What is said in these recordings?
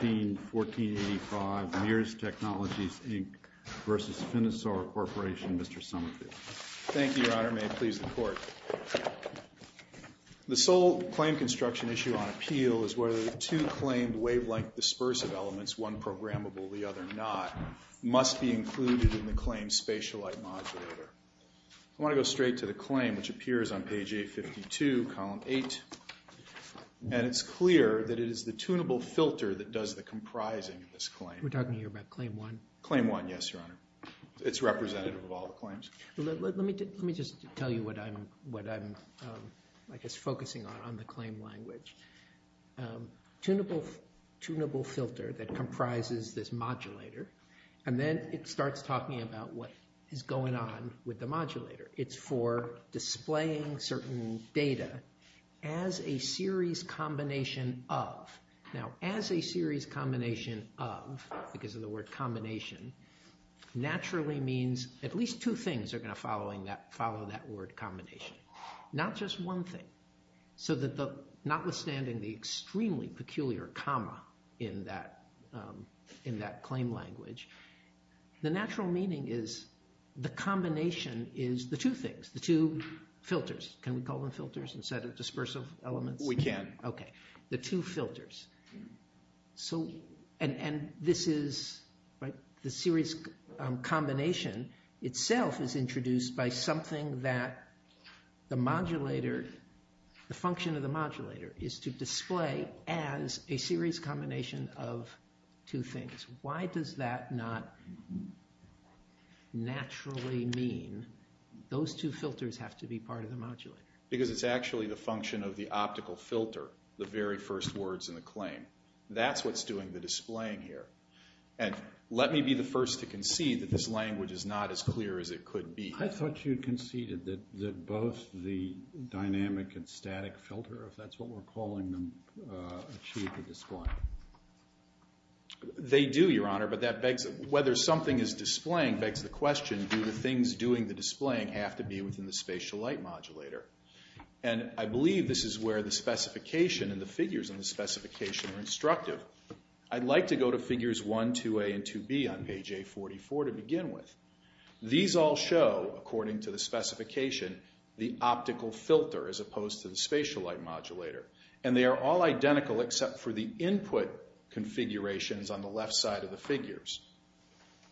1485 Mears Technologies, Inc. v. Finisar Corporation, Mr. Somerville. Thank you, Your Honor. May it please the Court. The sole claim construction issue on appeal is whether the two claimed wavelength dispersive elements, one programmable, the other not, must be included in the claimed spatial light modulator. I want to go straight to the claim, which appears on page 852, column 8, and it's clear that it is the tunable filter that does the comprising of this claim. We're talking here about Claim 1? Claim 1, yes, Your Honor. It's representative of all the claims. Let me just tell you what I'm, I guess, focusing on, on the claim language. Tunable filter that comprises this modulator, and then it starts talking about what is going on with the modulator. It's for displaying certain data as a series combination of. Now, as a series combination of, because of the word combination, naturally means at least two things are going to follow that word combination. Not just one thing. So that notwithstanding the extremely peculiar comma in that claim language, the natural meaning is the combination is the two things, the two filters. Can we call them filters instead of dispersive elements? We can. Okay. The two filters. So, and this is, right, the series combination itself is introduced by something that the modulator, the function of the modulator is to display as a series combination of two things. Why does that not naturally mean those two filters have to be part of the modulator? Because it's actually the function of the optical filter, the very first words in the claim. That's what's doing the displaying here. And let me be the first to concede that this language is not as clear as it could be. I thought you conceded that both the dynamic and static filter, if that's what we're calling them, achieve the display. They do, Your Honor, but that begs, whether something is displaying begs the question, do the things doing the displaying have to be within the spatial light modulator? And I believe this is where the specification and the figures in the specification are instructive. I'd like to go to figures 1, 2A, and 2B on page A44 to begin with. These all show, according to the specification, the optical filter as opposed to the spatial light modulator. And they are all identical except for the input configurations on the left side of the figures.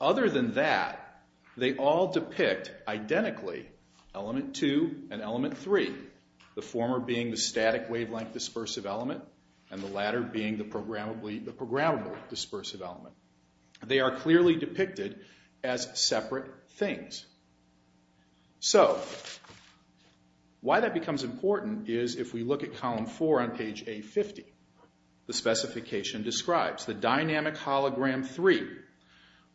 Other than that, they all depict identically element 2 and element 3, the former being the static wavelength dispersive element and the latter being the programmable dispersive element. They are clearly depicted as separate things. So, why that becomes important is if we look at column 4 on page A50. The specification describes the dynamic hologram 3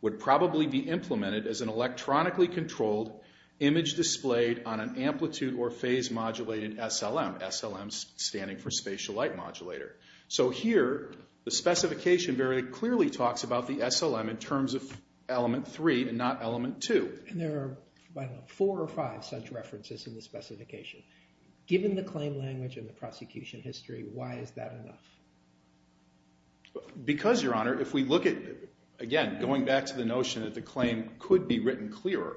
would probably be implemented as an electronically controlled image displayed on an amplitude or phase modulated SLM. SLM standing for spatial light modulator. So here, the specification very clearly talks about the SLM in terms of element 3 and not element 2. And there are, I don't know, four or five such references in the specification. Given the claim language and the prosecution history, why is that enough? Because, Your Honor, if we look at, again, going back to the notion that the claim could be written clearer,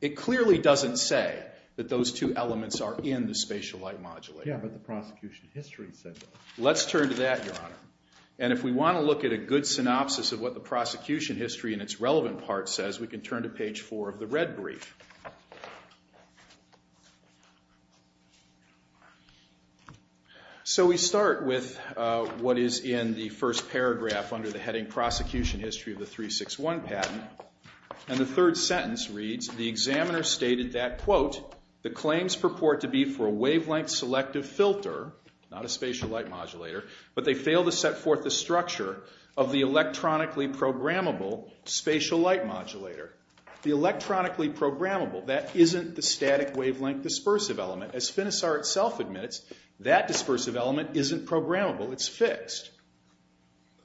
it clearly doesn't say that those two elements are in the spatial light modulator. Yeah, but the prosecution history said that. Let's turn to that, Your Honor. And if we want to look at a good synopsis of what the prosecution history and its relevant part says, we can turn to page 4 of the red brief. So we start with what is in the first paragraph under the heading Prosecution History of the 361 Patent. And the third sentence reads, The examiner stated that, quote, The claims purport to be for a wavelength selective filter, not a spatial light modulator, but they fail to set forth the structure of the electronically programmable spatial light modulator. The electronically programmable, that isn't the static wavelength dispersive element. As FINISAR itself admits, that dispersive element isn't programmable. It's fixed.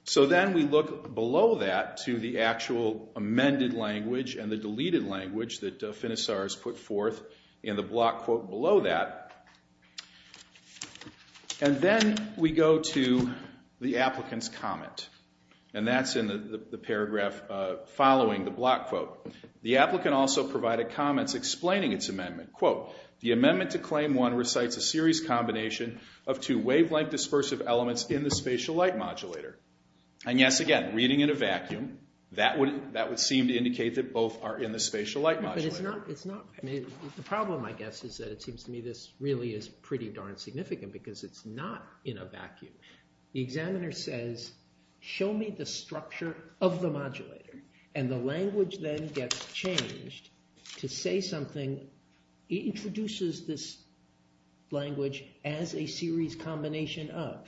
So then we look below that to the actual amended language and the deleted language that FINISAR has put forth in the block quote below that. And then we go to the applicant's comment. And that's in the paragraph following the block quote. The applicant also provided comments explaining its amendment. Quote, The amendment to claim 1 recites a serious combination of two wavelength dispersive elements in the spatial light modulator. And yes, again, reading in a vacuum, that would seem to indicate that both are in the spatial light modulator. The problem, I guess, is that it seems to me this really is pretty darn significant because it's not in a vacuum. The examiner says, show me the structure of the modulator. And the language then gets changed to say something. He introduces this language as a series combination of.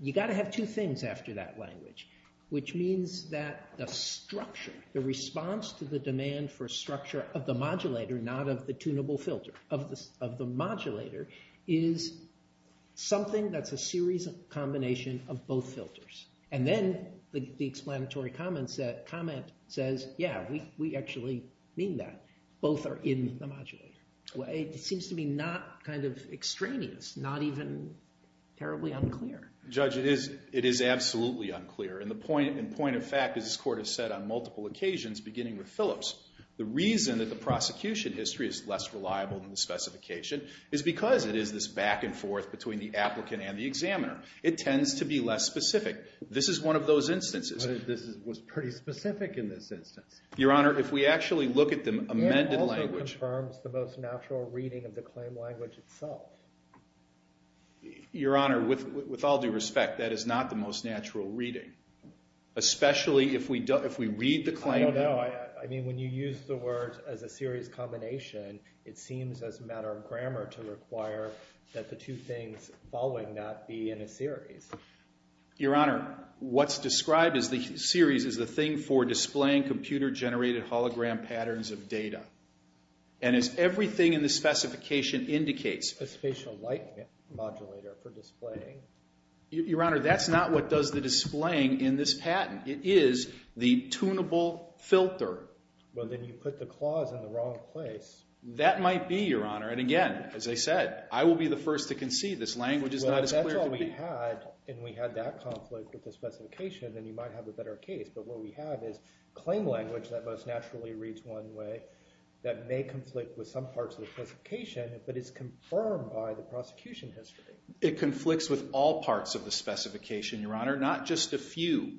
You got to have two things after that language, which means that the structure, the response to the demand for structure of the modulator, not of the tunable filter of the modulator, is something that's a series of combination of both filters. And then the explanatory comment says, yeah, we actually mean that. Both are in the modulator. It seems to me not kind of extraneous, not even terribly unclear. Judge, it is absolutely unclear. And point of fact, as this Court has said on multiple occasions, beginning with Phillips, the reason that the prosecution history is less reliable than the specification is because it is this back and forth between the applicant and the examiner. It tends to be less specific. This is one of those instances. But this was pretty specific in this instance. Your Honor, if we actually look at the amended language. It also confirms the most natural reading of the claim language itself. Your Honor, with all due respect, that is not the most natural reading, especially if we read the claim. I don't know. I mean, when you use the words as a series combination, it seems as a matter of grammar to require that the two things following that be in a series. Your Honor, what's described as the series is the thing for displaying computer-generated hologram patterns of data. And as everything in the specification indicates. A spatial light modulator for displaying. Your Honor, that's not what does the displaying in this patent. It is the tunable filter. Well, then you put the clause in the wrong place. That might be, Your Honor. And again, as I said, I will be the first to concede this language is not as clear to me. Well, if that's all we had and we had that conflict with the specification, then you might have a better case. But what we have is claim language that most naturally reads one way that may conflict with some parts of the specification, but it's confirmed by the prosecution history. It conflicts with all parts of the specification, Your Honor, not just a few.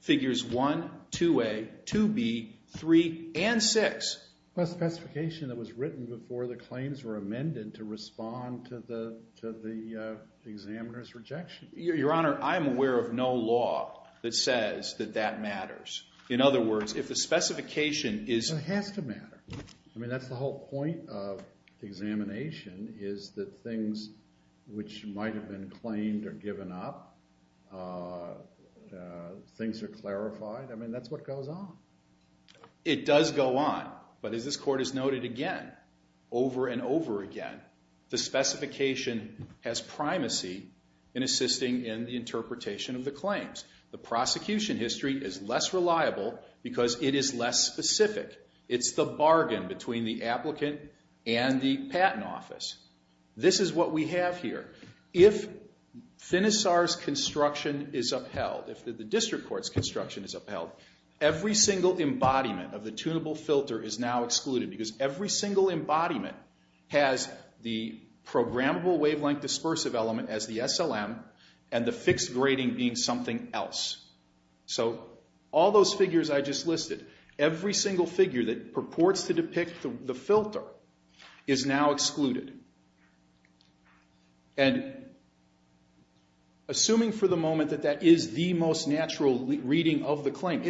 Figures 1, 2A, 2B, 3, and 6. Plus the specification that was written before the claims were amended to respond to the examiner's rejection. Your Honor, I'm aware of no law that says that that matters. In other words, if the specification is... It has to matter. I mean, that's the whole point of examination is that things which might have been claimed are given up. Things are clarified. I mean, that's what goes on. It does go on. But as this Court has noted again, over and over again, the specification has primacy in assisting in the interpretation of the claims. The prosecution history is less reliable because it is less specific. It's the bargain between the applicant and the patent office. This is what we have here. If FINISAR's construction is upheld, if the district court's construction is upheld, every single embodiment of the tunable filter is now excluded because every single embodiment has the programmable wavelength dispersive element as the SLM and the fixed grading being something else. So all those figures I just listed, every single figure that purports to depict the filter is now excluded. And assuming for the moment that that is the most natural reading of the claim,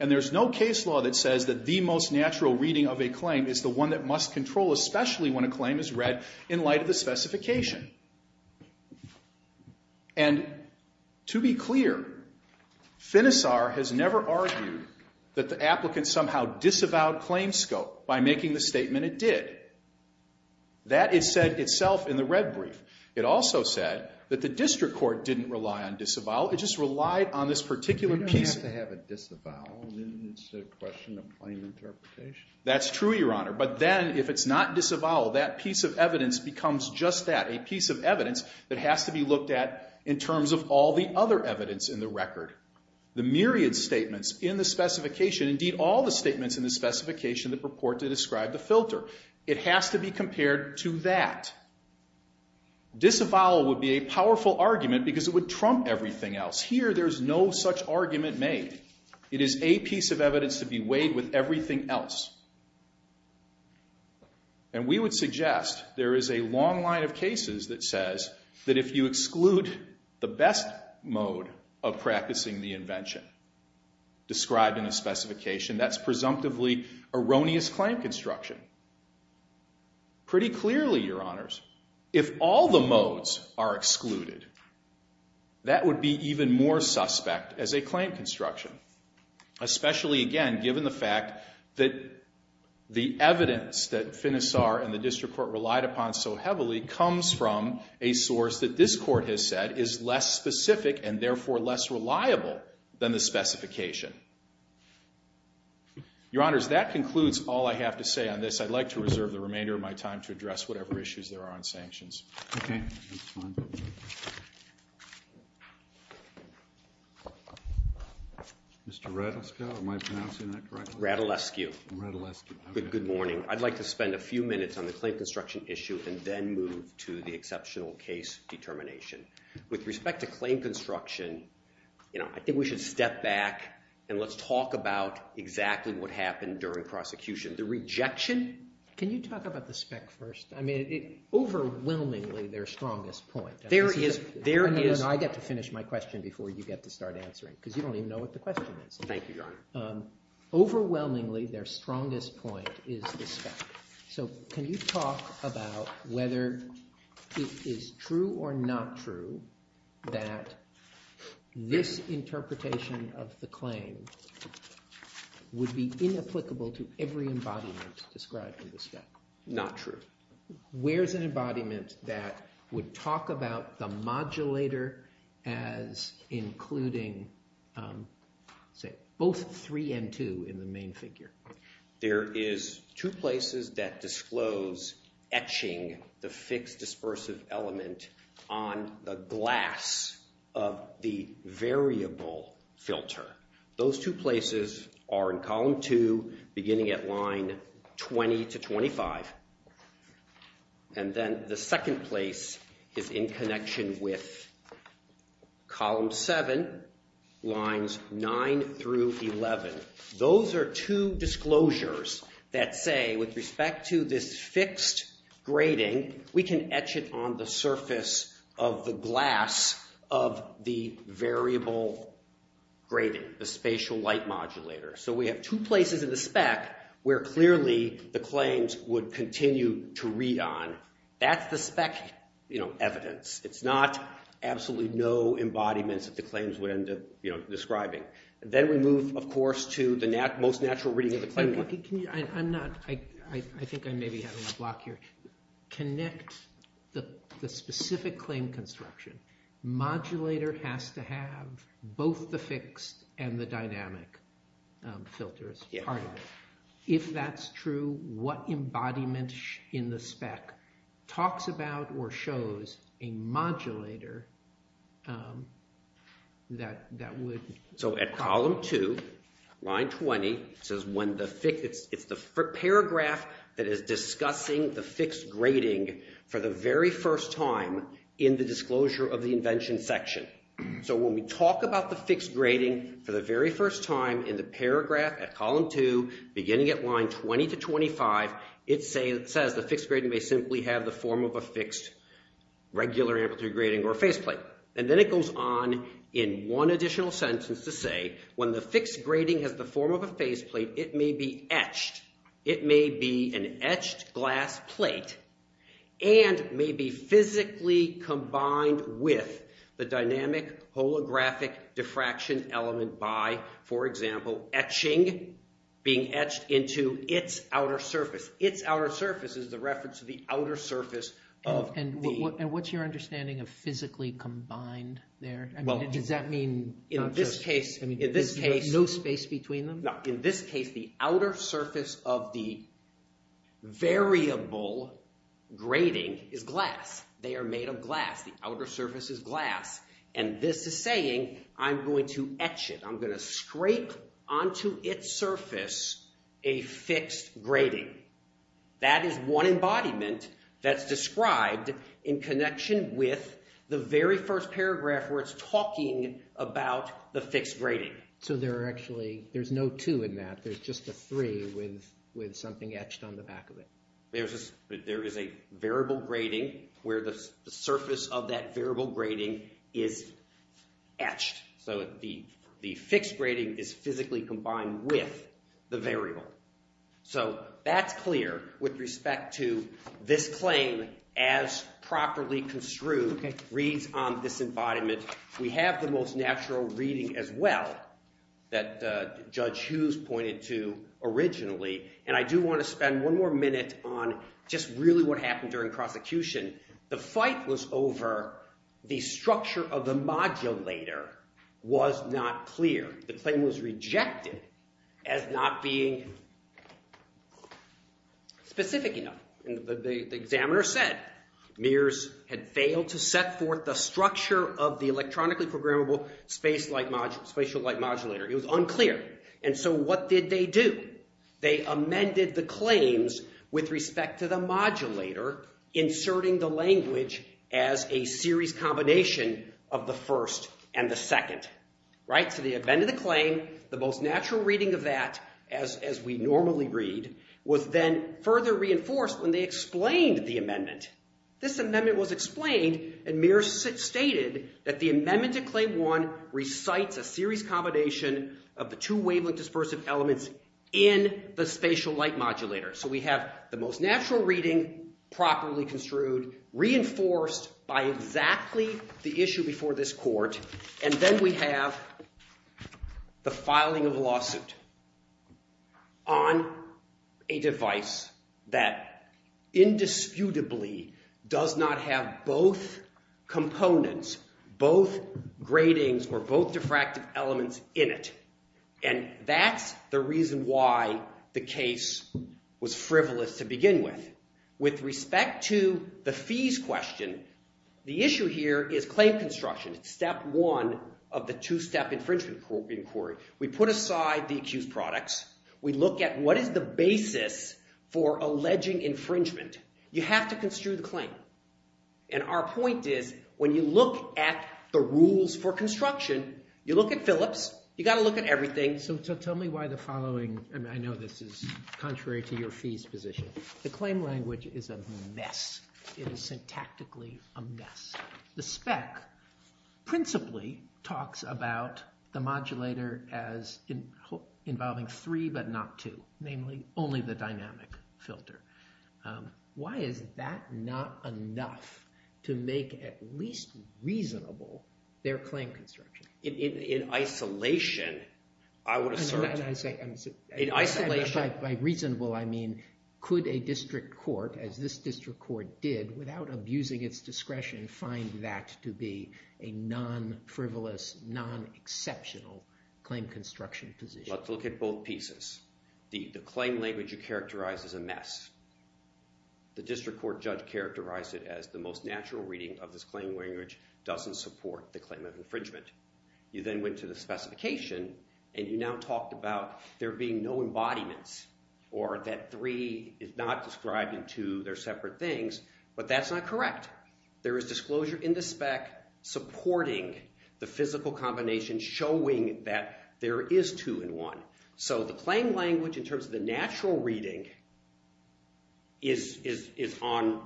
and there's no case law that says that the most natural reading of a claim is the one that must control, especially when a claim is read in light of the specification. And to be clear, FINISAR has never argued that the applicant somehow disavowed claimscope by making the statement it did. That is said itself in the red brief. It also said that the district court didn't rely on disavow. It just relied on this particular piece. You don't have to have a disavow. It's a question of plain interpretation. That's true, Your Honor. But then if it's not disavow, that piece of evidence becomes just that, a piece of evidence that has to be looked at in terms of all the other evidence in the record. The myriad statements in the specification, indeed all the statements in the specification that purport to describe the filter, it has to be compared to that. Disavow would be a powerful argument because it would trump everything else. Here there's no such argument made. It is a piece of evidence to be weighed with everything else. And we would suggest there is a long line of cases that says that if you exclude the best mode of practicing the invention described in a specification, that's presumptively erroneous claim construction. Pretty clearly, Your Honors, if all the modes are excluded, that would be even more suspect as a claim construction, especially, again, given the fact that the evidence that FINISAR and the district court relied upon so heavily comes from a source that this court has said is less specific and therefore less reliable than the specification. Your Honors, that concludes all I have to say on this. I'd like to reserve the remainder of my time to address whatever issues there are on sanctions. Mr. Radulescu, am I pronouncing that correctly? Radulescu. Good morning. I'd like to spend a few minutes on the claim construction issue and then move to the exceptional case determination. With respect to claim construction, I think we should step back and let's talk about exactly what happened during prosecution. The rejection. Can you talk about the spec first? I mean, overwhelmingly, their strongest point. There is. I get to finish my question before you get to start answering because you don't even know what the question is. Overwhelmingly, their strongest point is the spec. So can you talk about whether it is true or not true that this interpretation of the claim would be inapplicable to every embodiment described in the spec? Not true. Where is an embodiment that would talk about the modulator as including, say, both 3 and 2 in the main figure? There is two places that disclose etching the fixed dispersive element on the glass of the variable filter. Those two places are in column 2, beginning at line 20 to 25. And then the second place is in connection with column 7, lines 9 through 11. Those are two disclosures that say, with respect to this fixed grating, we can etch it on the surface of the glass of the variable grating, the spatial light modulator. So we have two places in the spec where clearly the claims would continue to read on. That's the spec evidence. It's not absolutely no embodiments that the claims would end up describing. Then we move, of course, to the most natural reading of the claim. I think I may be having a block here. Connect the specific claim construction. Modulator has to have both the fixed and the dynamic filters. If that's true, what embodiment in the spec talks about or shows a modulator that would... So at column 2, line 20, it's the paragraph that is discussing the fixed grating for the very first time in the disclosure of the invention section. So when we talk about the fixed grating for the very first time in the paragraph at column 2, beginning at line 20 to 25, it says the fixed grating may simply have the form of a fixed regular amplitude grating or faceplate. And then it goes on in one additional sentence to say when the fixed grating has the form of a faceplate, it may be etched. It may be an etched glass plate and may be physically combined with the dynamic holographic diffraction element by, for example, etching, being etched into its outer surface. Its outer surface is the reference to the outer surface of the... And what's your understanding of physically combined there? I mean, does that mean... In this case... There's no space between them? In this case, the outer surface of the variable grating is glass. They are made of glass. The outer surface is glass. And this is saying I'm going to etch it. I'm going to scrape onto its surface a fixed grating. That is one embodiment that's described in connection with the very first paragraph where it's talking about the fixed grating. So there are actually... There's no 2 in that. There's just a 3 with something etched on the back of it. There is a variable grating where the surface of that variable grating is etched. So the fixed grating is physically combined with the variable. So that's clear with respect to this claim as properly construed reads on this embodiment. We have the most natural reading as well that Judge Hughes pointed to originally. And I do want to spend one more minute on just really what happened during prosecution. The fight was over the structure of the modulator was not clear. The claim was rejected as not being specific enough. The examiner said Mears had failed to set forth the structure of the electronically programmable spatial light modulator. It was unclear. And so what did they do? They amended the claims with respect to the modulator inserting the language as a series combination of the first and the second. So they amended the claim. The most natural reading of that, as we normally read, was then further reinforced when they explained the amendment. This amendment was explained and Mears stated that the amendment to Claim 1 recites a series combination of the two wavelength dispersive elements in the spatial light modulator. So we have the most natural reading, properly construed, reinforced by exactly the issue before this court. And then we have the filing of a lawsuit on a device that indisputably does not have both components, both gratings or both diffractive elements in it. And that's the reason why the case was frivolous to begin with. With respect to the fees question, the issue here is claim construction. Step 1 of the two-step infringement inquiry. We put aside the accused products. We look at what is the basis for alleging infringement. You have to construe the claim. And our point is, when you look at the rules for construction, you look at Phillips. You've got to look at everything. So tell me why the following, and I know this is contrary to your fees position. The claim language is a mess. It is syntactically a mess. The spec principally talks about the modulator as involving three but not two. Namely, only the dynamic filter. Why is that not enough to make at least reasonable their claim construction? In isolation, I would assert. And by reasonable, I mean could a district court, as this district court did, without abusing its discretion find that to be a non-frivolous, non-exceptional claim construction position? Let's look at both pieces. The claim language you characterize as a mess. The district court judge characterized it as the most natural reading of this claim language doesn't support the claim of infringement. You then went to the specification, and you now talked about there being no embodiments, or that three is not described in two. They're separate things. But that's not correct. There is disclosure in the spec supporting the physical combination showing that there is two in one. So the claim language, in terms of the natural reading, is on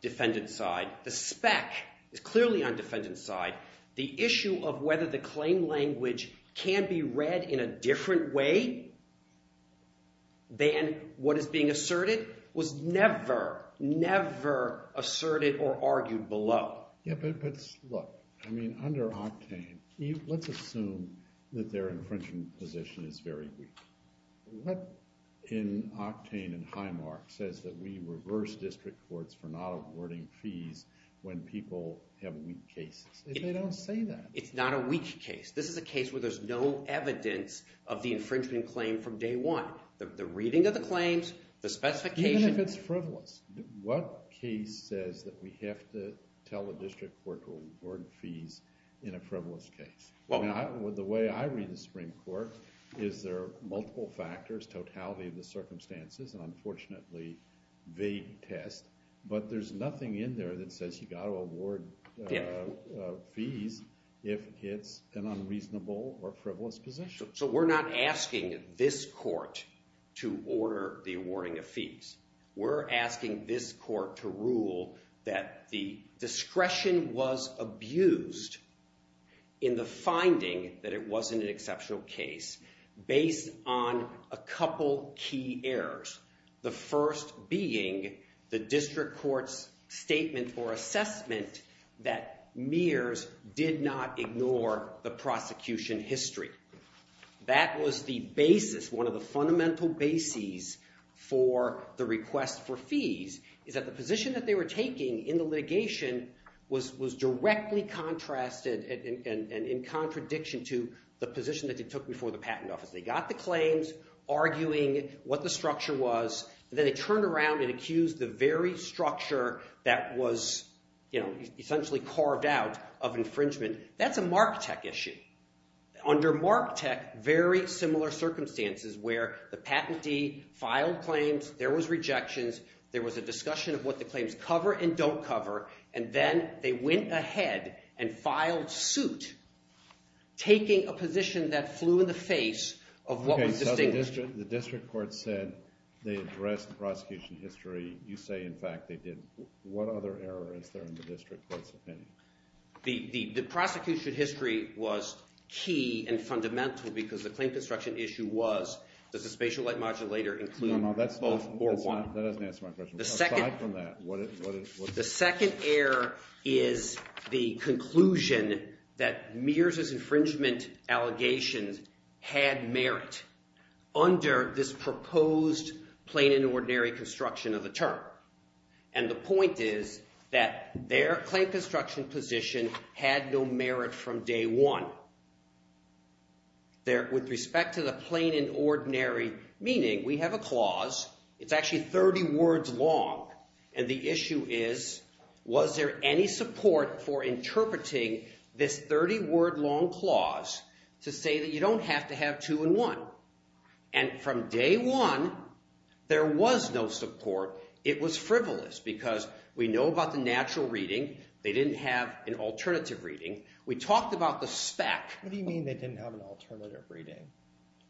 defendant's side. The spec is clearly on defendant's side. The issue of whether the claim language can be read in a different way than what is being asserted was never, never asserted or argued below. But look, under Octane, let's assume that their infringement position is very weak. What in Octane and Highmark says that we reverse district courts for not awarding fees when people have weak cases? They don't say that. It's not a weak case. This is a case where there's no evidence of the infringement claim from day one. The reading of the claims, the specification. Even if it's frivolous, what case says that we have to tell a district court to award fees in a frivolous case? The way I read the Supreme Court is there are multiple factors, totality of the circumstances, and unfortunately vague test. But there's nothing in there that says you've got to award fees if it's an unreasonable or frivolous position. So we're not asking this court to order the awarding of fees. We're asking this court to rule that the discretion was abused in the finding that it wasn't an exceptional case based on a couple key errors. The first being the district court's statement or assessment that Mears did not ignore the prosecution history. That was the basis, one of the fundamental bases, for the request for fees, is that the position that they were taking in the litigation was directly contrasted and in contradiction to the position that they took before the patent office. They got the claims, arguing what the structure was, and then they turned around and accused the very structure that was essentially carved out of infringement. That's a Marketech issue. Under Marketech, very similar circumstances where the patentee filed claims, there was rejections, there was a discussion of what the claims cover and don't cover, and then they went ahead and filed suit, taking a position that flew in the face of what was distinguished. OK, so the district court said they addressed the prosecution history. You say, in fact, they didn't. What other error is there in the district court's opinion? The prosecution history was key and fundamental because the claim construction issue was, does the spatial light modulator include both or one? That doesn't answer my question. Aside from that, what is it? The second error is the conclusion that Mears's infringement allegations had merit under this proposed plain and ordinary construction of the term. And the point is that their claim construction position had no merit from day one. With respect to the plain and ordinary, meaning we have a clause. It's actually 30 words long. And the issue is, was there any support for interpreting this 30 word long clause to say that you don't have to have two and one? And from day one, there was no support. It was frivolous because we know about the natural reading. They didn't have an alternative reading. We talked about the spec. What do you mean they didn't have an alternative reading?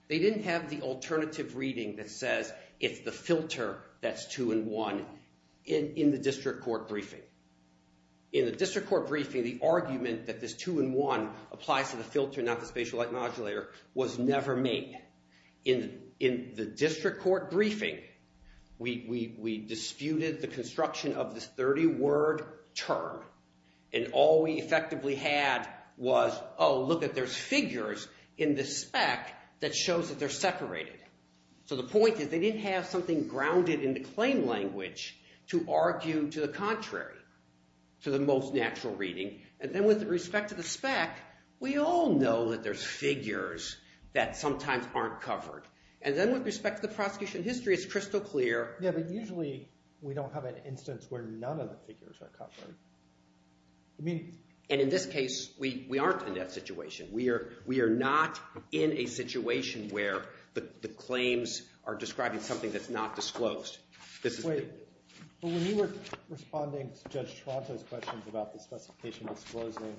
They didn't have the alternative reading that says it's the filter that's two and one in the district court briefing. In the district court briefing, the argument that this two and one applies to the filter, not the spatial light modulator, was never made. In the district court briefing, we disputed the construction of this 30 word term. And all we effectively had was, oh, look at there's figures in the spec that shows that they're separated. So the point is they didn't have something grounded in the claim language to argue to the contrary, to the most natural reading. And then with respect to the spec, we all know that there's figures that sometimes aren't covered. And then with respect to the prosecution history, it's crystal clear. Yeah, but usually we don't have an instance where none of the figures are covered. And in this case, we aren't in that situation. We are not in a situation where the claims are describing something that's not disclosed. Wait, but when you were responding to Judge Toronto's questions about the specification disclosing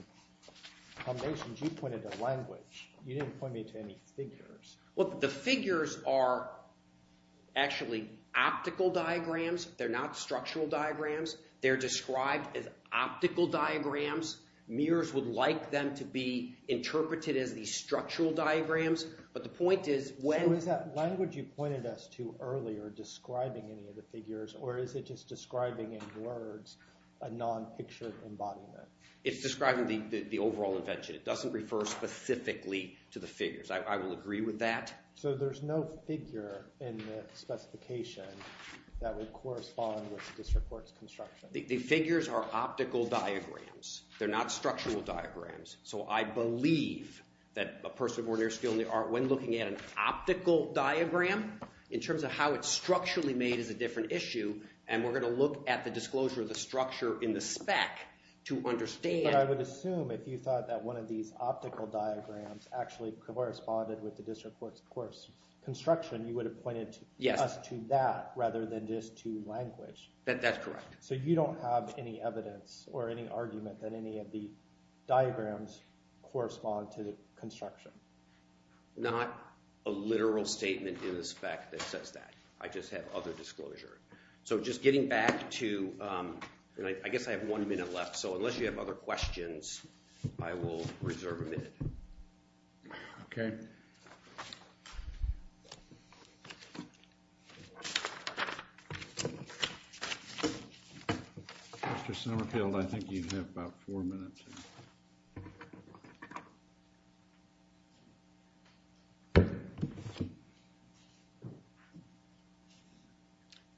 combinations, you pointed to language. You didn't point me to any figures. Well, the figures are actually optical diagrams. They're not structural diagrams. They're described as optical diagrams. Mirrors would like them to be interpreted as these structural diagrams. But the point is when- So is that language you pointed us to earlier describing any of the figures, or is it just It's describing the overall invention. It doesn't refer specifically to the figures. I will agree with that. So there's no figure in the specification that would correspond with the District Court's construction? The figures are optical diagrams. They're not structural diagrams. So I believe that a person with ordinary skill in the art, when looking at an optical diagram, in terms of how it's structurally made, is a different issue. And we're going to look at the disclosure of the structure in the spec to understand- But I would assume if you thought that one of these optical diagrams actually corresponded with the District Court's construction, you would have pointed us to that rather than just to language. That's correct. So you don't have any evidence or any argument that any of the diagrams correspond to construction? Not a literal statement in the spec that says that. I just have other disclosure. So just getting back to- I guess I have one minute left. So unless you have other questions, I will reserve a minute. Okay. Mr. Summerfield, I think you have about four minutes.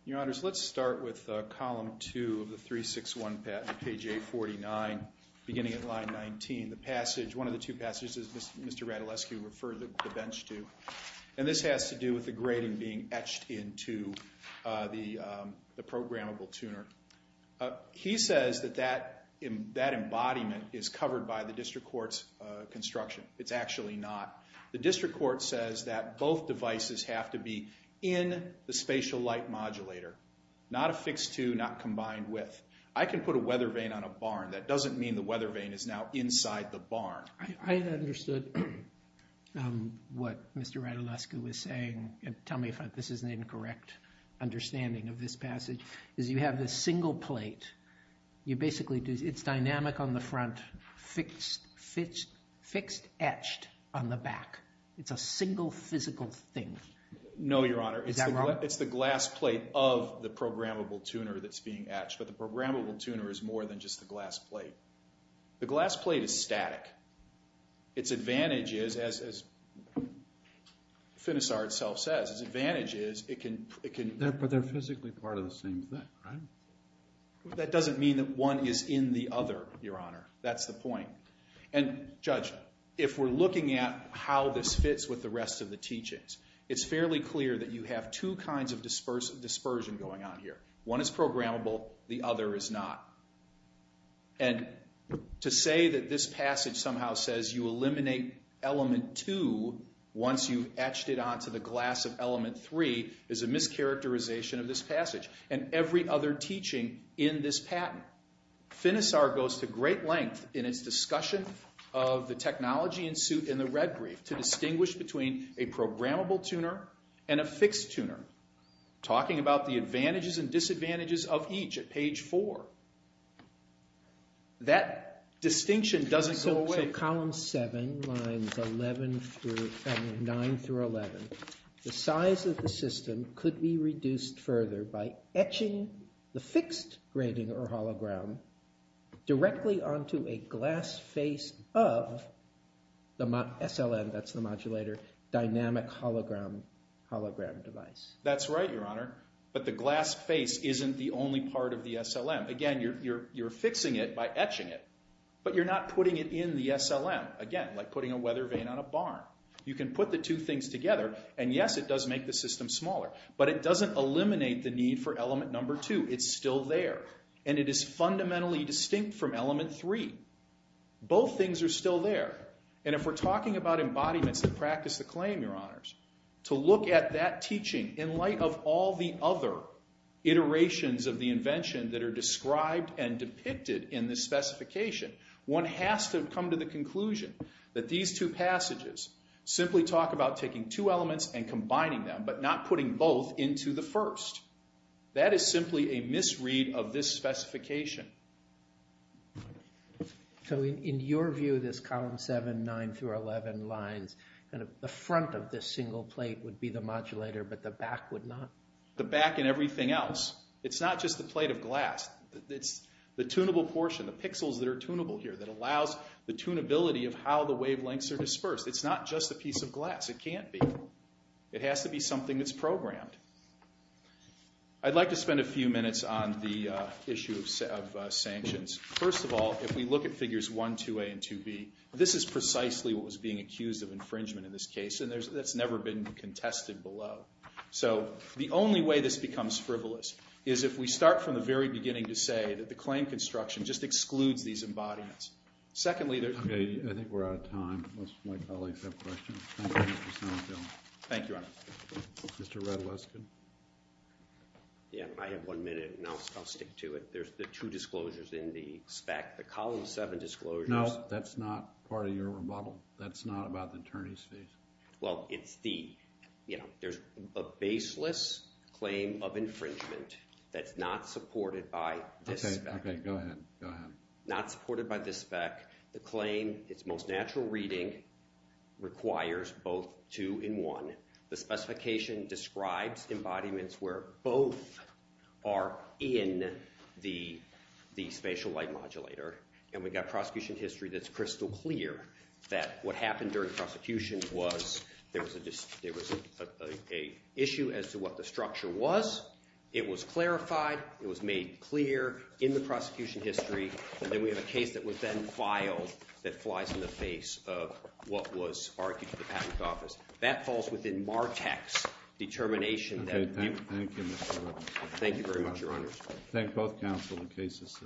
Your Honors, let's start with column two of the 361 patent, page 849, beginning at line 19. One of the two passages that Mr. Radulescu referred the bench to. And this has to do with the grating being etched into the programmable tuner. He says that that embodiment is covered by the District Court's construction. It's actually not. The District Court says that both devices have to be in the spatial light modulator, not affixed to, not combined with. I can put a weather vane on a barn. That doesn't mean the weather vane is now inside the barn. I understood what Mr. Radulescu was saying. Tell me if this is an incorrect understanding of this passage. You have this single plate. It's dynamic on the front, fixed etched on the back. It's a single physical thing. No, Your Honor. Is that wrong? It's the glass plate of the programmable tuner that's being etched. But the programmable tuner is more than just the glass plate. The glass plate is static. Its advantage is, as Finisar itself says, its advantage is it can... But they're physically part of the same thing, right? That doesn't mean that one is in the other, Your Honor. That's the point. And, Judge, if we're looking at how this fits with the rest of the teachings, it's fairly clear that you have two kinds of dispersion going on here. One is programmable. The other is not. And to say that this passage somehow says you eliminate element two once you've etched it onto the glass of element three is a mischaracterization of this passage and every other teaching in this patent. Now, Finisar goes to great length in its discussion of the technology ensued in the red brief to distinguish between a programmable tuner and a fixed tuner, talking about the advantages and disadvantages of each at page four. That distinction doesn't go away. So column seven, lines nine through 11, the size of the system could be reduced further by etching the fixed grading or hologram directly onto a glass face of the SLM, that's the modulator, dynamic hologram device. That's right, Your Honor. But the glass face isn't the only part of the SLM. Again, you're fixing it by etching it, but you're not putting it in the SLM. Again, like putting a weather vane on a barn. You can put the two things together, and, yes, it does make the system smaller, but it doesn't eliminate the need for element number two. It's still there. And it is fundamentally distinct from element three. Both things are still there. And if we're talking about embodiments that practice the claim, Your Honors, to look at that teaching in light of all the other iterations of the invention that are described and depicted in this specification, one has to come to the conclusion that these two passages simply talk about taking two elements and combining them but not putting both into the first. That is simply a misread of this specification. So in your view, this column 7, 9 through 11 lines, the front of this single plate would be the modulator, but the back would not? The back and everything else. It's not just the plate of glass. It's the tunable portion, the pixels that are tunable here that allows the tunability of how the wavelengths are dispersed. It's not just a piece of glass. It can't be. It has to be something that's programmed. I'd like to spend a few minutes on the issue of sanctions. First of all, if we look at figures 1a, 2a, and 2b, this is precisely what was being accused of infringement in this case, and that's never been contested below. So the only way this becomes frivolous is if we start from the very beginning to say that the claim construction just excludes these embodiments. Secondly, there's... Okay, I think we're out of time. Unless my colleagues have questions. Thank you, Your Honor. Mr. Redleskin. Yeah, I have one minute, and I'll stick to it. There's the two disclosures in the spec, the column 7 disclosures. No, that's not part of your rebuttal. That's not about the attorney's fees. Well, it's the, you know, there's a baseless claim of infringement that's not supported by this spec. Okay, go ahead. Not supported by this spec. The claim, its most natural reading, requires both 2 and 1. The specification describes embodiments where both are in the spatial light modulator, and we've got prosecution history that's crystal clear that what happened during the prosecution was there was an issue as to what the structure was. It was clarified. It was made clear in the prosecution history, and then we have a case that was then filed that flies in the face of what was argued to the patent office. That falls within Martek's determination. Okay, thank you, Mr. Redleskin. Thank you very much, Your Honor. Thank both counsel. The case is submitted.